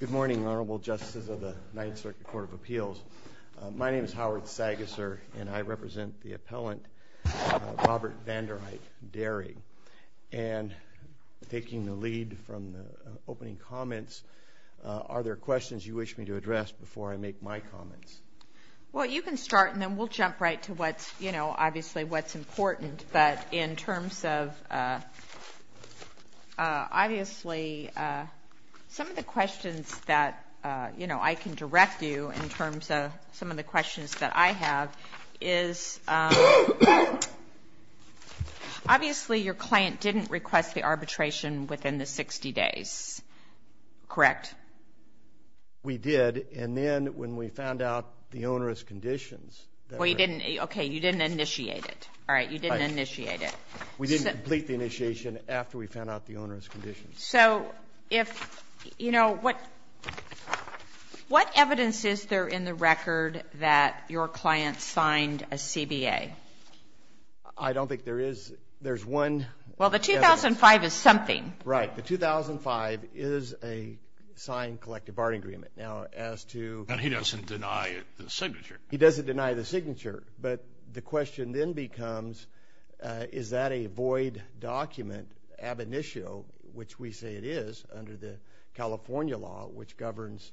Good morning, Honorable Justices of the Ninth Circuit Court of Appeals. My name is Howard Sagaser and I represent the appellant, Robert Vander Eyk Dairy. And taking the lead from the opening comments, are there questions you wish me to address before I make my comments? Well, you can start and then we'll jump right to what, you know, obviously what's important. But in terms of, obviously, some of the questions that, you know, I can direct you in terms of some of the questions that I have is, obviously, your client didn't request the arbitration within the 60 days, correct? We did, and then when we found out the onerous conditions. Well, you didn't, okay, you didn't initiate it, all right, you didn't initiate it. We didn't complete the initiation after we found out the conditions. So, if, you know, what evidence is there in the record that your client signed a CBA? I don't think there is. There's one. Well, the 2005 is something. Right, the 2005 is a signed collective bargaining agreement. Now, as to. And he doesn't deny the signature. He doesn't deny the signature, but the question then becomes, is that a void document ab initio, which we say it is under the California law, which governs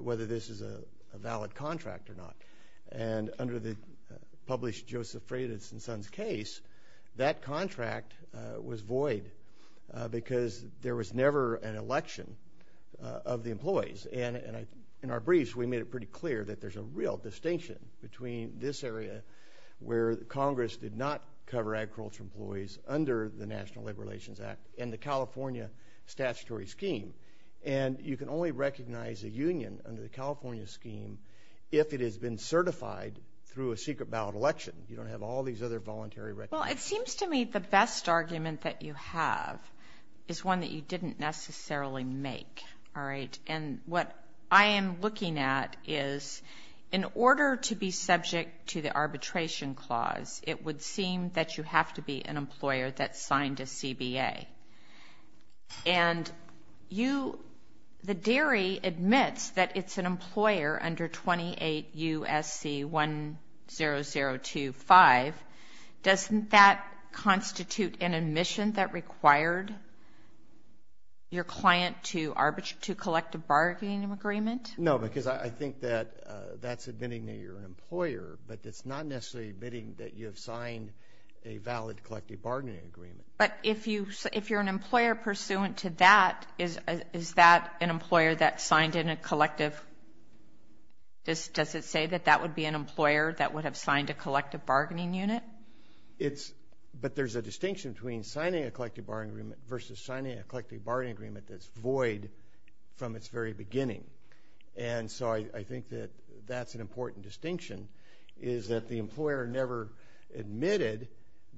whether this is a valid contract or not. And under the published Joseph Freitas and Sons case, that contract was void because there was never an election of the employees. And in our briefs, we made it pretty clear that there's a real distinction between this area where Congress did not cover agriculture employees under the National Labor Relations Act and the California statutory scheme. And you can only recognize a union under the California scheme if it has been certified through a secret ballot election. You don't have all these other voluntary records. Well, it seems to me the best argument that you have is one that you didn't necessarily make, all right? And what I am looking at is, in order to be subject to the arbitration clause, it would seem that you have to be an employer that signed a CBA. And you, the dairy admits that it's an employer under 28 U.S.C. 10025. Doesn't that constitute an admission that required your client to collect a bargaining agreement? No, because I think that that's admitting that you're an employer, but it's not necessarily admitting that you have signed a valid collective bargaining agreement. But if you, if you're an employer pursuant to that, is that an employer that signed in a collective, does it say that that would be an employer that would have signed a collective bargaining unit? It's, but there's a distinction between signing a collective bargaining agreement versus signing a collective bargaining agreement that's void from its very beginning. And so I think that that's an important distinction, is that the employer never admitted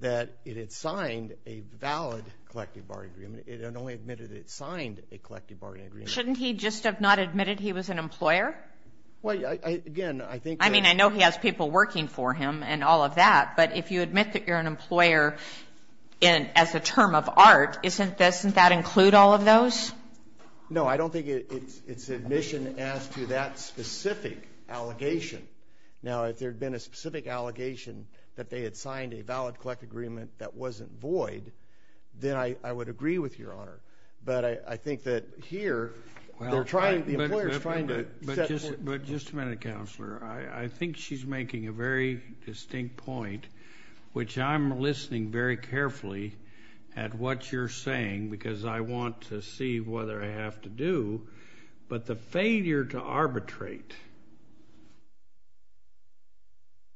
that it had signed a valid collective bargaining agreement. It only admitted it signed a collective bargaining agreement. Shouldn't he just have not admitted he was an employer? Well, again, I think. I mean, I know he has people working for him and all of that, but if you admit that you're an employer in, as a term of art, isn't that include all of those? No, I don't think it's admission as to that specific allegation. Now, if there had been a specific allegation that they had signed a valid collective agreement that wasn't void, then I would agree with your Honor. But I think that here, they're trying, the employer's trying to. But just a minute, Counselor. I think she's making a very distinct point, which I'm listening very carefully to what you're saying, because I want to see whether I have to do. But the failure to arbitrate,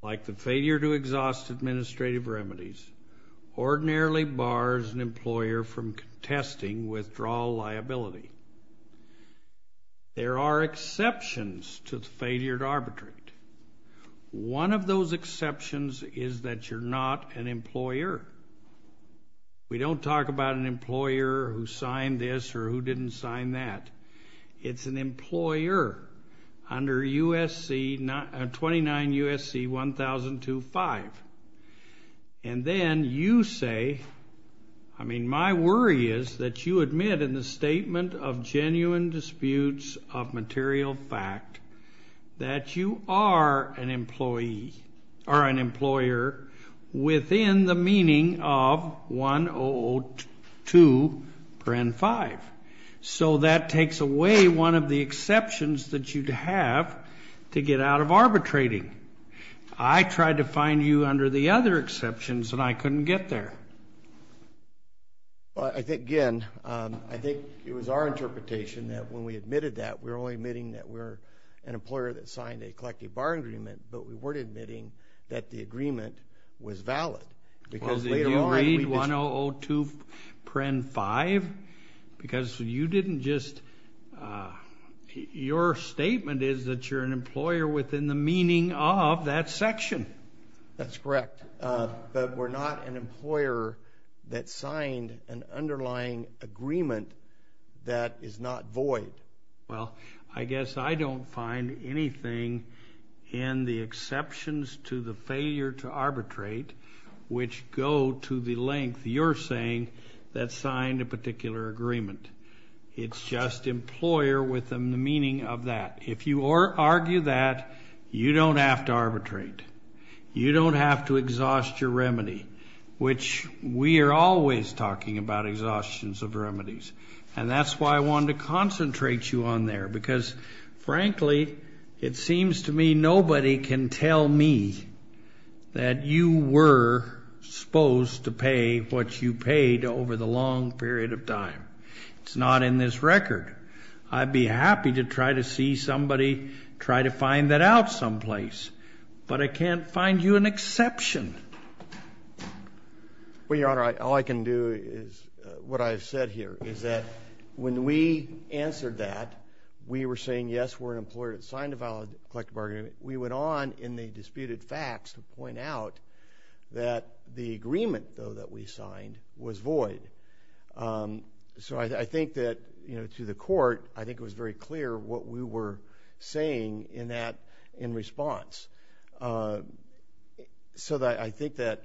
like the failure to exhaust administrative remedies, ordinarily bars an employer from contesting withdrawal liability. There are exceptions to the failure to arbitrate. One of those exceptions is that you're not an employer. We don't talk about an employer who signed this or who didn't sign that. It's an employer under 29 U.S.C. 1002.5. And then you say, I mean, my worry is that you admit in the statement of genuine disputes of material fact that you are an employer within the meaning of 1002.5. So that takes away one of the exceptions that you'd have to get out of arbitrating. I tried to find you under the other exceptions and I couldn't get there. I think, again, I think it was our interpretation that when we admitted that we're only admitting that we're an employer that signed a collective bar agreement, but we agreed that the agreement was valid, because later on, we just... Well, did you read 1002.5? Because you didn't just... Your statement is that you're an employer within the meaning of that section. That's correct. But we're not an employer that signed an underlying agreement that is not void. Well, I guess I don't find anything in the exceptions to the failure to arbitrate which go to the length you're saying that signed a particular agreement. It's just employer within the meaning of that. If you argue that, you don't have to arbitrate. You don't have to exhaust your remedy, which we are always talking about exhaustions of remedies. And that's why I wanted to concentrate you on there, because, frankly, it seems to me nobody can tell me that you were supposed to pay what you paid over the long period of time. It's not in this record. I'd be happy to try to see somebody try to find that out someplace, but I can't find you an exception. Well, Your Honor, all I can do is... What I've said here is that when we answered that, we were saying, yes, we're an employer that signed a valid collective bargaining agreement. We went on in the disputed facts to point out that the agreement, though, that we signed was void. So I think that, you know, to the court, I think it was very clear what we were saying in that response. So I think that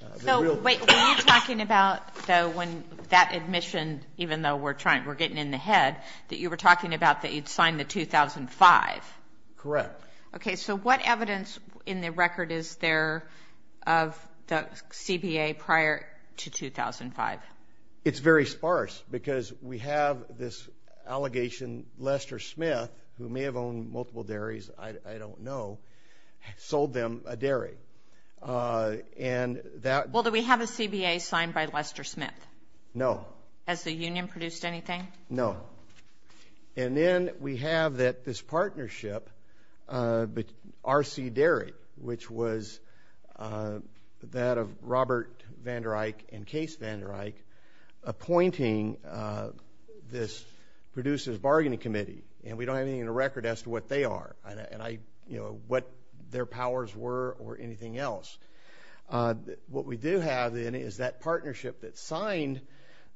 the real... So, wait, were you talking about, though, when that admission, even though we're trying, we're getting in the head, that you were talking about that you'd signed the 2005? Correct. Okay, so what evidence in the record is there of the CBA prior to 2005? It's very sparse, because we have this allegation, Lester Smith, who may have owned multiple dairies, I don't know, sold them a dairy. And that... Well, do we have a CBA signed by Lester Smith? No. Has the union produced anything? No. And then we have that this partnership, R.C. Dairy, which was that of Robert Vander Eick, appointing this producers' bargaining committee. And we don't have anything in the record as to what they are, and I, you know, what their powers were or anything else. What we do have, then, is that partnership that signed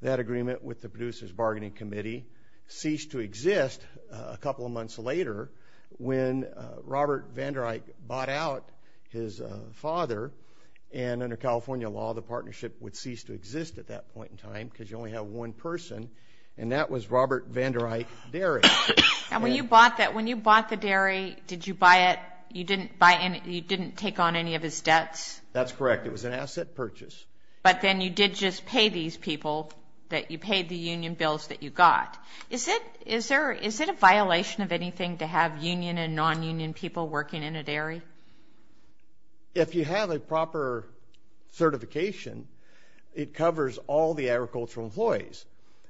that agreement with the producers' bargaining committee ceased to exist a couple of months later when Robert Vander Eick bought out his father. And under California law, the partnership would cease to exist at that point in time, because you only have one person, and that was Robert Vander Eick Dairy. And when you bought the dairy, did you buy it, you didn't take on any of his debts? That's correct. It was an asset purchase. But then you did just pay these people that you paid the union bills that you got. Is it a violation of anything to have union and non-union people working in a dairy? If you have a proper certification, it covers all the agricultural employees.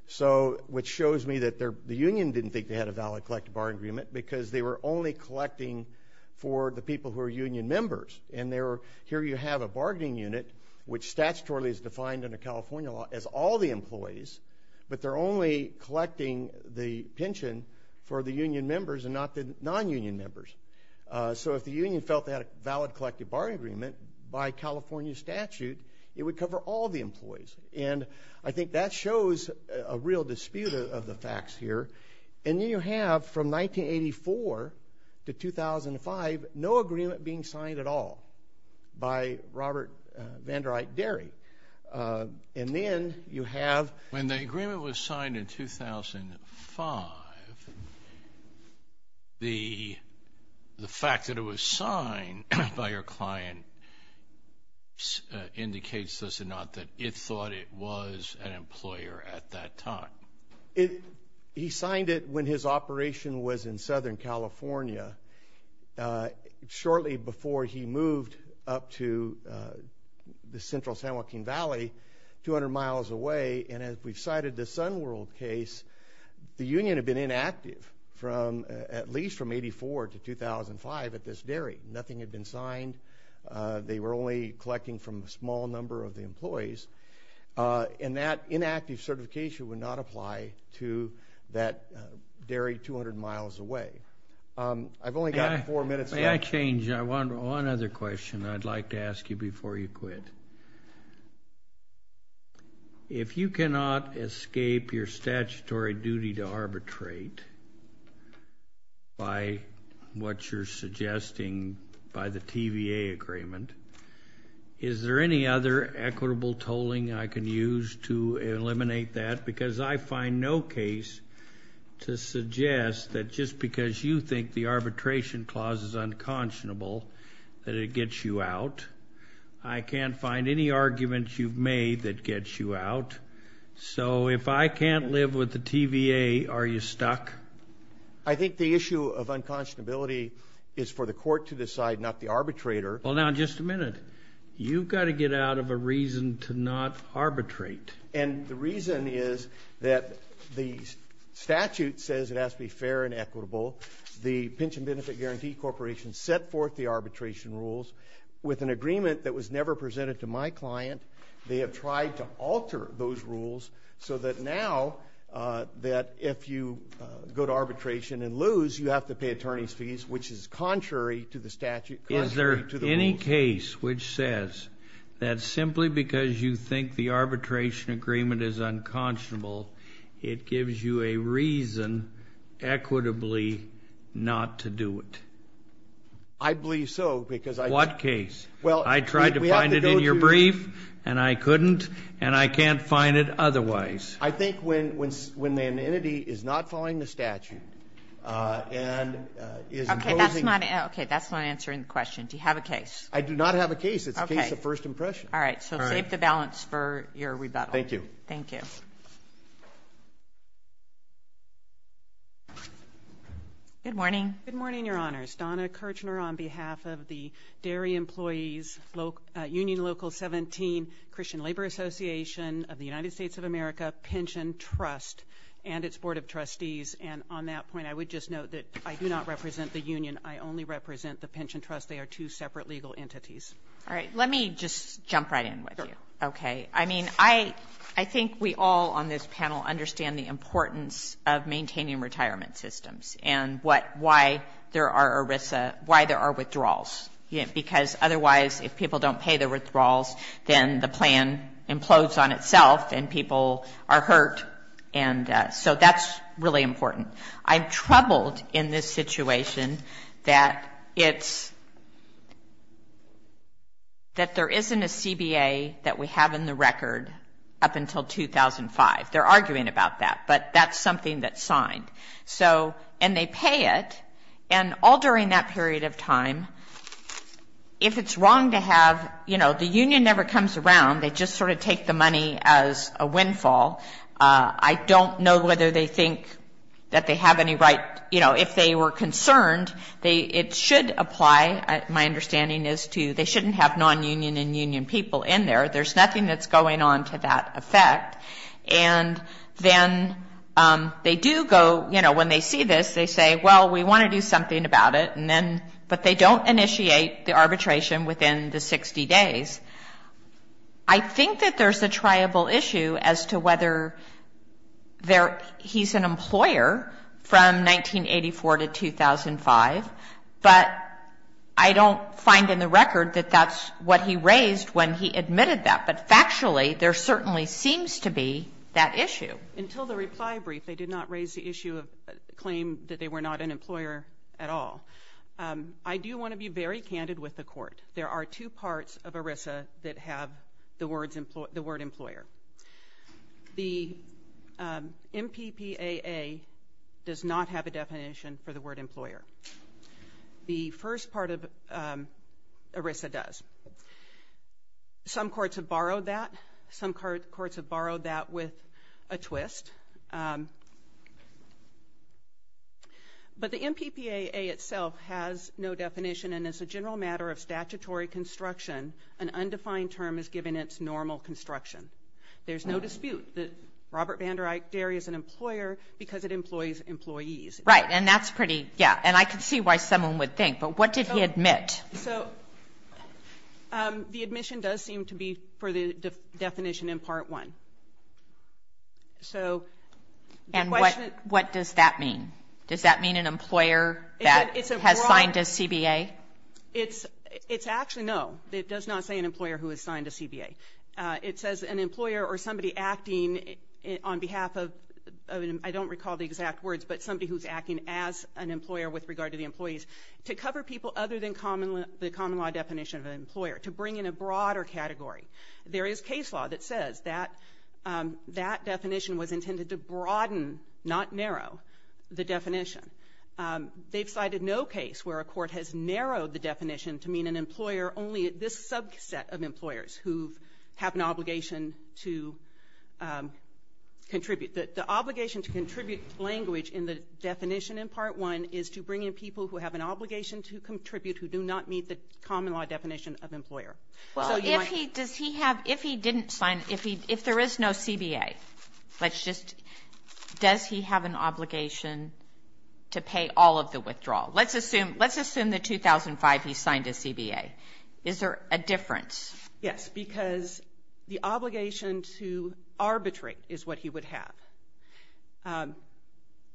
So, which shows me that the union didn't think they had a valid collective bargaining agreement, because they were only collecting for the people who are union members. And here you have a bargaining unit, which statutorily is defined under California law as all the pension for the union members and not the non-union members. So, if the union felt they had a valid collective bargaining agreement, by California statute, it would cover all the employees. And I think that shows a real dispute of the facts here. And then you have from 1984 to 2005, no agreement being signed at all by Robert Vander Eick Dairy. And then you have... When the agreement was signed in 2005, the fact that it was signed by your client indicates this or not, that it thought it was an employer at that time? He signed it when his operation was in Southern California. Shortly before he moved up to the central San Joaquin Valley, 200 miles away. And as we've cited the Sun World case, the union had been inactive from at least from 84 to 2005 at this dairy. Nothing had been signed. They were only collecting from a small number of the employees. And that inactive certification would not apply to that dairy 200 miles away. I've only got four minutes left. May I change? One other question I'd like to ask you before you quit. If you cannot escape your statutory duty to arbitrate by what you're suggesting by the TVA agreement, is there any other equitable tolling I can use to eliminate that? Because I find no case to suggest that just because you think the arbitration clause is unconscionable that it gets you out. I can't find any argument you've made that gets you out. So if I can't live with the TVA, are you stuck? I think the issue of unconscionability is for the court to decide, not the arbitrator. Well, now, just a minute. You've got to get out of a reason to not arbitrate. And the reason is that the statute says it has to be fair and equitable. The Pension Benefit Guarantee Corporation set forth the arbitration rules with an agreement that was never presented to my client. They have tried to alter those rules so that now that if you go to arbitration and lose, you have to pay attorney's fees, which is contrary to the statute, contrary to the rules. Is there any case which says that simply because you think the arbitration agreement is unconscionable, it gives you a reason, equitably, not to do it? I believe so, because I... What case? I tried to find it in your brief, and I couldn't, and I can't find it otherwise. I think when an entity is not following the statute and is imposing... Okay, that's not answering the question. Do you have a case? I do not have a case. It's a case of first impression. All right, so save the balance for your rebuttal. Thank you. Thank you. Good morning. Good morning, Your Honors. Donna Kirchner on behalf of the Dairy Employees Union Local 17, Christian Labor Association of the United States of America Pension Trust and its Board of Trustees. And on that point, I would just note that I do not represent the union. I only represent the pension trust. They are two separate legal entities. All right. Let me just jump right in with you. Okay. I mean, I think we all on this panel understand the importance of maintaining retirement systems and why there are withdrawals, because otherwise, if people don't pay the withdrawals, then the plan implodes on itself, and people are hurt. And so that's really important. I'm troubled in this situation that it's, that there isn't a CBA that we have in the record up until 2005. They're arguing about that, but that's something that's signed. So, and they pay it, and all during that period of time, if it's wrong to have, you know, the union never comes around. They just sort of take the money as a windfall. I don't know whether they think that they have any right, you know, if they were concerned, they, it should apply, my understanding is, to, they shouldn't have non-union and union people in there. There's nothing that's going on to that effect. And then they do go, you know, when they see this, they say, well, we want to do something about it. And then, but they don't initiate the arbitration within the 60 days. I think that there's a triable issue as to whether there, he's an employer from 1984 to 2005, but I don't find in the record that that's what he raised when he admitted that. But factually, there certainly seems to be that issue. Until the reply brief, they did not raise the issue of, claim that they were not an ERISA that have the word employer. The MPPAA does not have a definition for the word employer. The first part of ERISA does. Some courts have borrowed that. Some courts have borrowed that with a twist. But the MPPAA itself has no definition and is a general matter of statutory construction. An undefined term is given its normal construction. There's no dispute that Robert Vandereich Derry is an employer because it employs employees. Right. And that's pretty, yeah. And I can see why someone would think. But what did he admit? So the admission does seem to be for the definition in Part 1. So the question is And what does that mean? Does that mean an employer that has signed a CBA? It's actually no. It does not say an employer who has signed a CBA. It says an employer or somebody acting on behalf of, I don't recall the exact words, but somebody who's acting as an employer with regard to the employees. To cover people other than the common law definition of an employer. To bring in a broader category. There is case law that says that definition was intended to broaden, not narrow, the definition. They've cited no case where a court has narrowed the definition to mean an employer only at this subset of employers who have an obligation to contribute. The obligation to contribute language in the definition in Part 1 is to bring in people who have an obligation to contribute who do not meet the common law definition of employer. Well, if he didn't sign, if there is no CBA, let's just, does he have an obligation to contribute? Let's assume that 2005 he signed a CBA. Is there a difference? Yes, because the obligation to arbitrate is what he would have.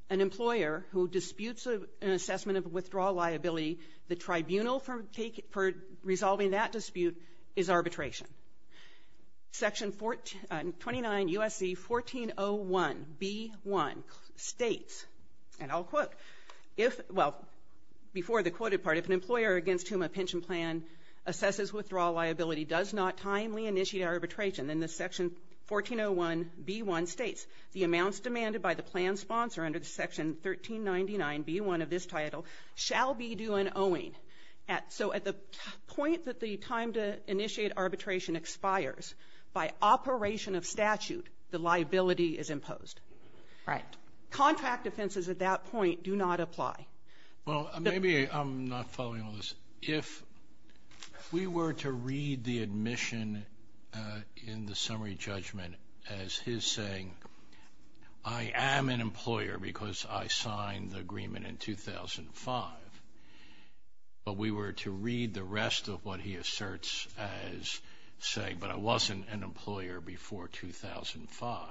An employer who disputes an assessment of withdrawal liability, the tribunal for resolving that dispute is arbitration. Section 29 U.S.C. 1401B1 states, and I'll quote, if, well, before the quote, if the employer against whom a pension plan assesses withdrawal liability does not timely initiate arbitration, then the Section 1401B1 states, the amounts demanded by the plan sponsor under Section 1399B1 of this title shall be due in owing. So at the point that the time to initiate arbitration expires, by operation of statute, the liability is imposed. Right. Contract offenses at that point do not apply. Well, maybe I'm not following all this. If we were to read the admission in the summary judgment as his saying, I am an employer because I signed the agreement in 2005, but we were to read the rest of what he asserts as saying, but I wasn't an employer before 2005,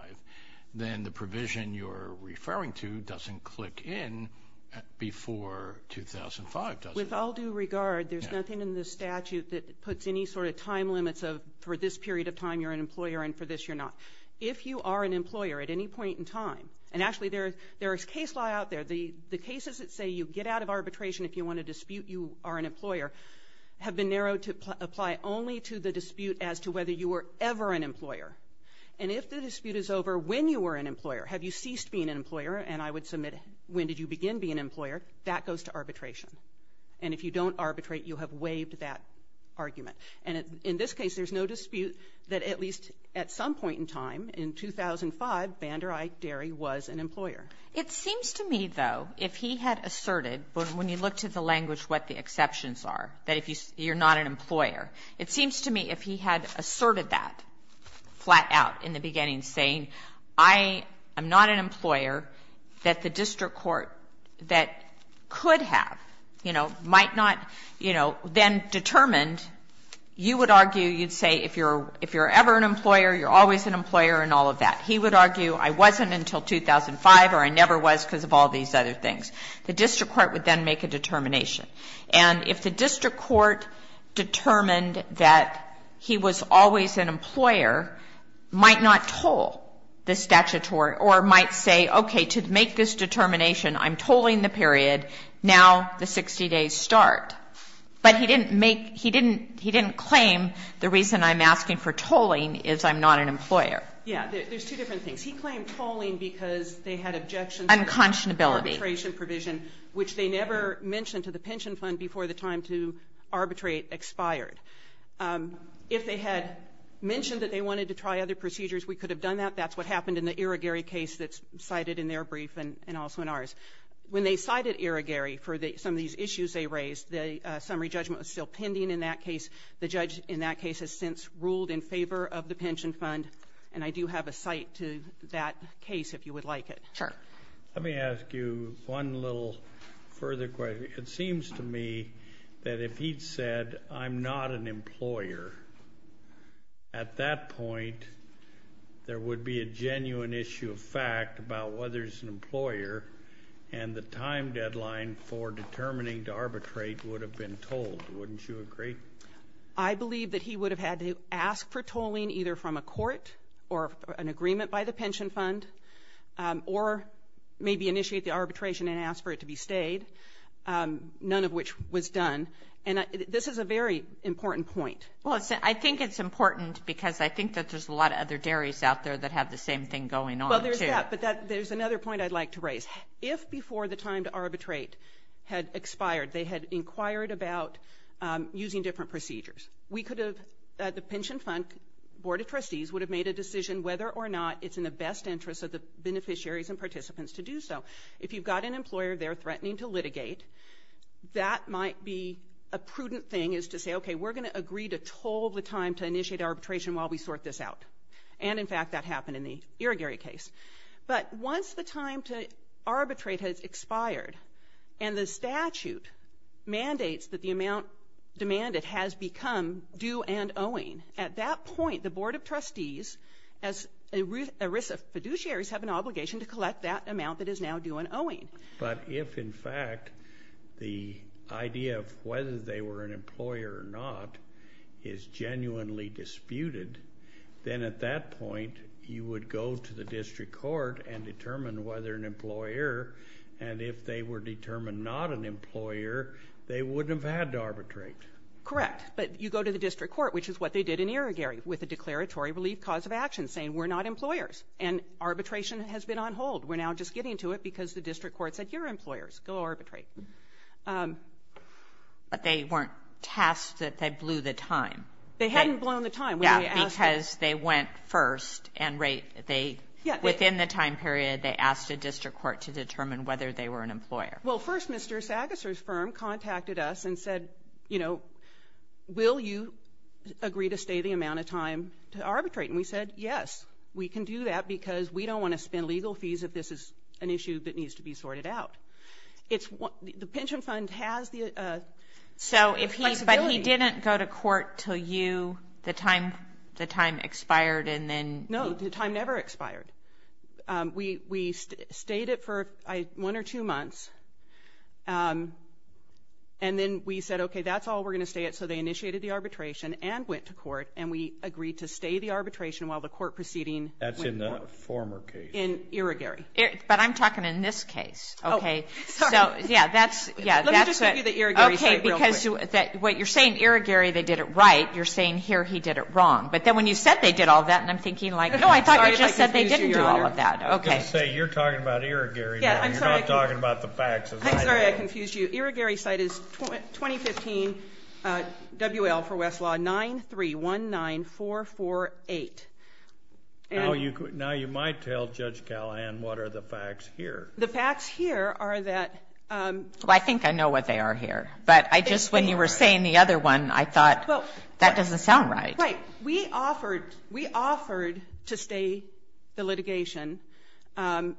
then the provision you're referring to doesn't click in before 2005, does it? With all due regard, there's nothing in the statute that puts any sort of time limits of for this period of time you're an employer and for this you're not. If you are an employer at any point in time, and actually there is case law out there, the cases that say you get out of arbitration if you want to dispute you are an employer, have been narrowed to apply only to the dispute as to whether you were ever an employer. And if the dispute is over when you were an employer, have you ceased being an employer, and I would submit when did you begin being an employer, that goes to arbitration. And if you don't arbitrate, you have waived that argument. And in this case, there's no dispute that at least at some point in time, in 2005, Banderai Derry was an employer. It seems to me, though, if he had asserted, when you look to the language what the exceptions are, that if you're not an employer, it seems to me if he had asserted that flat out in the beginning saying I am not an employer, that the district court that could have, you know, might not, you know, then determined, you would argue, you'd say if you're ever an employer, you're always an employer and all of that. He would argue I wasn't until 2005 or I never was because of all these other things. The district court would then make a determination. And if the district court determined that he was always an employer, might not toll the statutory or might say, okay, to make this determination, I'm tolling the period. Now the 60 days start. But he didn't make, he didn't claim the reason I'm asking for tolling is I'm not an employer. Yeah, there's two different things. He claimed tolling because they had objections to the arbitration provision, which they never mentioned to the pension fund before the time to arbitrate expired. If they had mentioned that they wanted to try other procedures, we could have done that. That's what happened in the Irrigary case that's cited in their brief and also in ours. When they cited Irrigary for some of these issues they raised, the summary judgment was still pending in that case. The judge in that case has since ruled in favor of the pension fund. And I do have a cite to that case if you would like it. Let me ask you one little further question. It seems to me that if he'd said, I'm not an employer, at that point, there would be a genuine issue of fact about whether he's an employer and the time deadline for determining to arbitrate would have been tolled. Wouldn't you agree? I believe that he would have had to ask for tolling either from a court or an agreement by the pension fund, or maybe initiate the arbitration and ask for it to be stayed, none of which was done. And this is a very important point. Well, I think it's important because I think that there's a lot of other dairies out there that have the same thing going on. Well, there's that, but there's another point I'd like to raise. If before the time to arbitrate had expired, they had inquired about using different procedures, we could have, the pension fund board of trustees would have made a decision whether or not it's in the best interest of the beneficiaries and participants to do so. If you've got an employer there threatening to litigate, that might be a prudent thing is to say, okay, we're going to agree to toll the time to initiate arbitration while we sort this out. And in fact, that happened in the Irrigary case. But once the time to arbitrate has expired and the statute mandates that the amount demanded that has become due and owing, at that point, the board of trustees as a risk of fiduciaries have an obligation to collect that amount that is now due and owing. But if in fact, the idea of whether they were an employer or not is genuinely disputed, then at that point, you would go to the district court and determine whether an employer and if they were determined not an employer, they wouldn't have had to arbitrate. Correct. But you go to the district court, which is what they did in Irrigary with a declaratory relief cause of action saying, we're not employers. And arbitration has been on hold. We're now just getting to it because the district court said, you're employers. Go arbitrate. But they weren't tasked that they blew the time. They hadn't blown the time. Yeah, because they went first and they, within the time period, they asked a district court to determine whether they were an employer. Well, first, Mr. Sackes's firm contacted us and said, you know, will you agree to stay the amount of time to arbitrate? And we said, yes, we can do that because we don't want to spend legal fees if this is an issue that needs to be sorted out. It's the pension fund has the. So if he's, but he didn't go to court till you, the time, the time expired. And then no, the time never expired. We stayed it for one or two months. And then we said, okay, that's all we're going to stay at. So they initiated the arbitration and went to court and we agreed to stay the arbitration while the court proceeding. That's in the former case. In Irrigary. But I'm talking in this case. Okay. So yeah, that's, yeah, that's what you're saying. Irrigary, they did it right. You're saying here he did it wrong. But then when you said they did all of that and I'm thinking like, no, I thought I just said they didn't do all of that. Okay. Say you're talking about Irrigary. You're not talking about the facts. I'm sorry I confused you. Irrigary site is 2015 WL for Westlaw 9 3 1 9 4 4 8. Now you might tell Judge Callahan what are the facts here? The facts here are that, well, I think I know what they are here, but I just, when you were saying the other one, I thought, well, that doesn't sound right. Right. We offered, we offered to stay the litigation.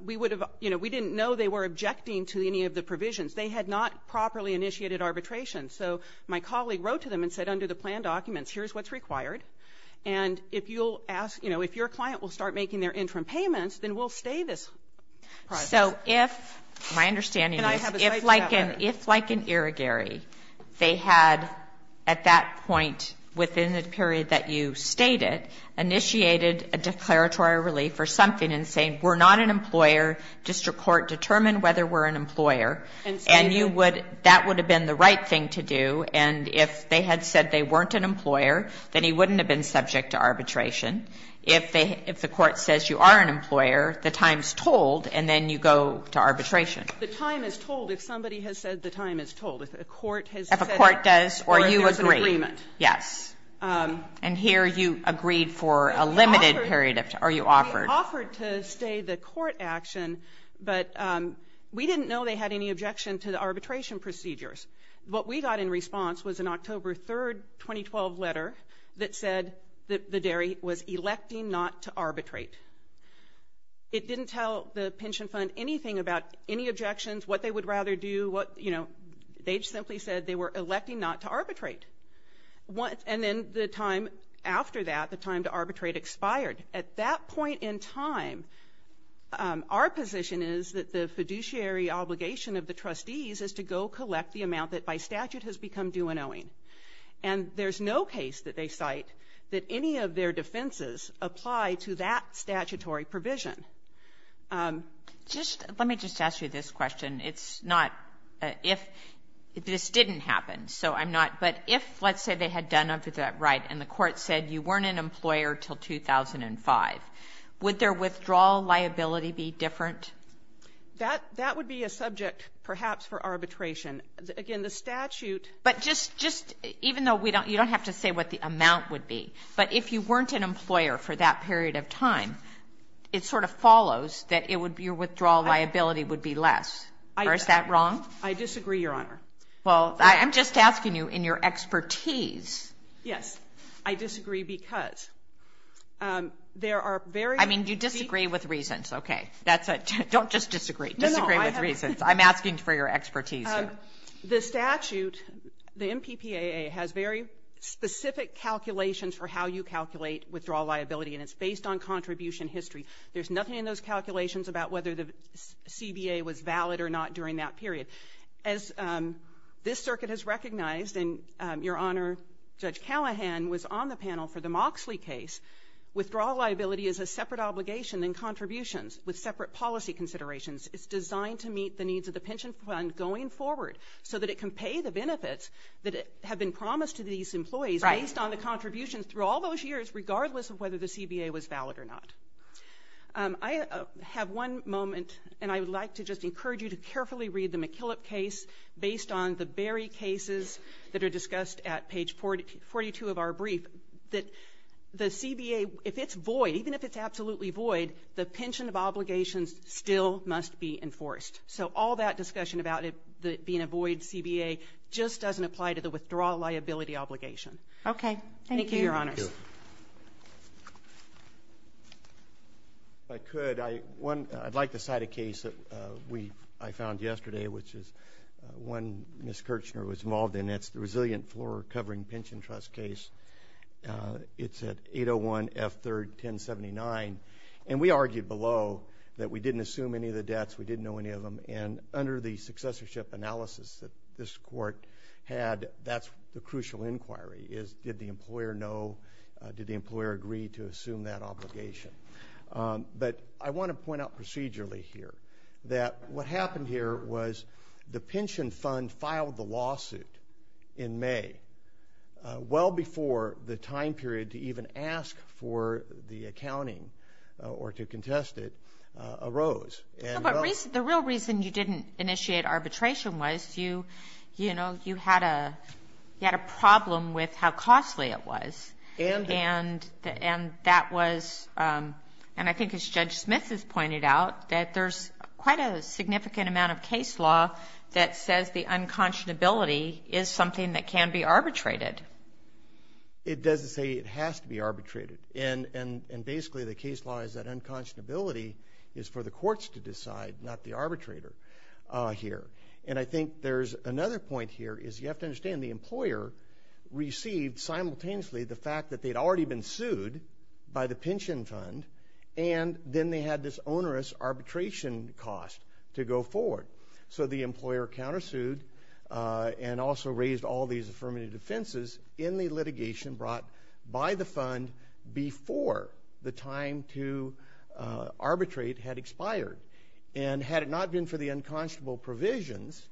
We would have, you know, we didn't know they were objecting to any of the provisions. They had not properly initiated arbitration. So my colleague wrote to them and said, under the plan documents, here's what's required. And if you'll ask, you know, if your client will start making their interim payments, then we'll stay this process. So if, my understanding is, if like in, if like in Irrigary, they had at that point within the period that you stated, initiated a declaratory relief or something and saying, we're not an employer, district court determined whether we're an employer. And you would, that would have been the right thing to do. And if they had said they weren't an employer, then he wouldn't have been subject to arbitration. If they, if the court says you are an employer, the time's told, and then you go to arbitration. The time is told if somebody has said the time is told. If a court has said it or if there's an agreement. If a court does or you agree, yes. And here you agreed for a limited period of time, or you offered. We offered to stay the court action, but we didn't know they had any objection to the arbitration procedures. What we got in response was an October 3rd, 2012 letter that said that the Dairy was electing not to arbitrate. It didn't tell the pension fund anything about any objections, what they would rather do, what, you know, they just simply said they were electing not to arbitrate. And then the time after that, the time to arbitrate expired. At that point in time, our position is that the fiduciary obligation of the trustees is to go collect the amount that by statute has become due and owing. And there's no case that they cite that any of their defenses apply to that statutory provision. Just, let me just ask you this question. It's not, if this didn't happen, so I'm not. But if, let's say, they had done a right and the court said you weren't an employer until 2005, would their withdrawal liability be different? That would be a subject, perhaps, for arbitration. Again, the statute But just, even though we don't, you don't have to say what the amount would be, but if you weren't an employer for that period of time, it sort of follows that it would be your withdrawal liability would be less, or is that wrong? I disagree, Your Honor. Well, I'm just asking you in your expertise. Yes, I disagree because there are very I mean, you disagree with reasons. Okay, that's it. Don't just disagree, disagree with reasons. I'm asking for your expertise here. The statute, the MPPAA has very specific calculations for how you calculate withdrawal liability, and it's based on contribution history. There's nothing in those calculations about whether the CBA was valid or not during that period. As this circuit has recognized, and Your Honor, Judge Callahan was on the panel for the Moxley case, withdrawal liability is a separate obligation and contributions with separate policy considerations. It's designed to meet the needs of the pension fund going forward so that it can pay the benefits that have been promised to these employees based on the contributions through all those years, regardless of whether the CBA was valid or not. I have one moment, and I would like to just encourage you to carefully read the McKillop case based on the Berry cases that are discussed at page 42 of our brief that the CBA, if it's void, even if it's absolutely void, the pension of obligations still must be enforced. So all that discussion about it being a void CBA just doesn't apply to the withdrawal liability obligation. Okay. Thank you. Thank you, Your Honors. If I could, I'd like to cite a case that I found yesterday which is one Ms. Kirchner was involved in. It's the resilient floor covering pension trust case. It's at 801 F3rd 1079, and we argued below that we didn't assume any of the debts, we didn't know any of them, and under the successorship analysis that this Court had, that's the crucial inquiry is did the employer know, did the employer agree to assume that obligation? But I want to point out procedurally here that what happened here was the pension fund filed the lawsuit in May well before the time period to even ask for the accounting or to contest it arose. The real reason you didn't initiate arbitration was you had a problem with how costly it was, and that was, and I think as Judge Smith has pointed out, that there's quite a significant amount of case law that says the unconscionability is something that can be arbitrated. It doesn't say it has to be arbitrated, and basically the case law is that unconscionability is for the courts to decide, not the arbitrator here. And I think there's another point here is you have to understand the employer received simultaneously the fact that they'd already been sued by the pension fund, and then they had this onerous arbitration cost to go forward. So the employer counter-sued and also raised all these affirmative defenses in the litigation brought by the fund before the time to arbitrate had expired. And had it not been for the unconscionable provisions,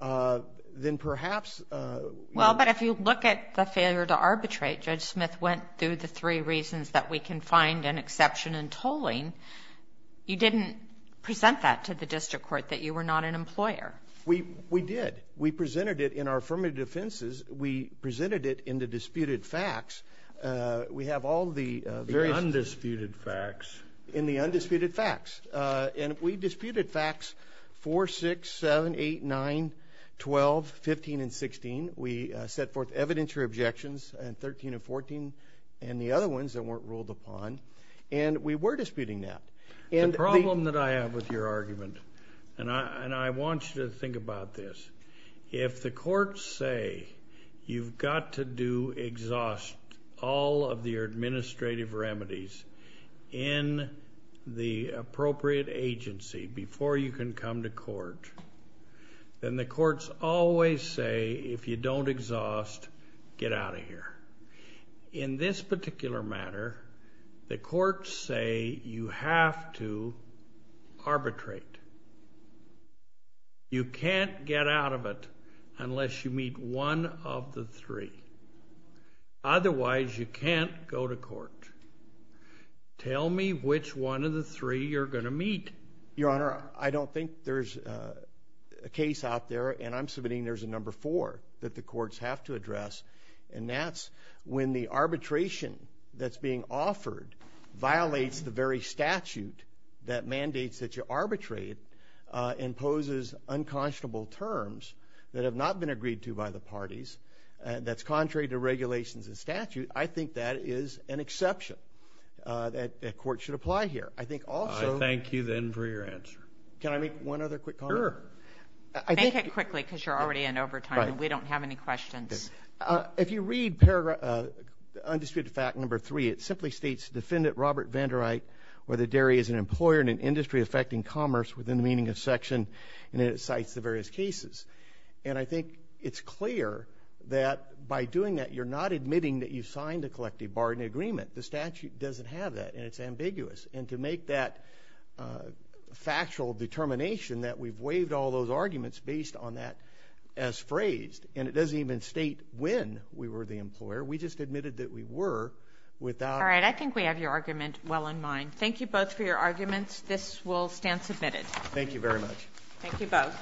then perhaps- Well, but if you look at the failure to arbitrate, Judge Smith went through the three reasons that we can find an exception in tolling. You didn't present that to the district court, that you were not an employer. We did. We presented it in our affirmative defenses. We presented it in the disputed facts. We have all the- The undisputed facts. In the undisputed facts. And we disputed facts 4, 6, 7, 8, 9, 12, 15, and 16. We set forth evidentiary objections, 13 and 14, and the other ones that weren't ruled upon. And we were disputing that. The problem that I have with your argument, and I want you to think about this, if the courts say you've got to exhaust all of your administrative remedies in the appropriate agency before you can come to court, then the courts always say, if you don't exhaust, get out of here. In this particular matter, the courts say you have to arbitrate. You can't get out of it unless you meet one of the three. Otherwise, you can't go to court. Tell me which one of the three you're going to meet. Your Honor, I don't think there's a case out there, and I'm submitting there's a number four that the courts have to address. And that's when the arbitration that's being offered violates the very statute that mandates that you arbitrate. It imposes unconscionable terms that have not been agreed to by the parties, and that's contrary to regulations and statute. I think that is an exception that the court should apply here. I think also- I thank you, then, for your answer. Can I make one other quick comment? Sure. Make it quickly, because you're already in overtime, and we don't have any questions. If you read undisputed fact number three, it simply states, Defendant Robert Vandereit, whether Derry is an employer in an industry affecting commerce within the meaning of section, and it cites the various cases. And I think it's clear that by doing that, you're not admitting that you signed a collective bargaining agreement. The statute doesn't have that, and it's ambiguous. And to make that factual determination that we've waived all those arguments based on that as phrased, and it doesn't even state when we were the employer. We just admitted that we were without- All right, I think we have your argument well in mind. Thank you both for your arguments. This will stand submitted. Thank you very much. Thank you both.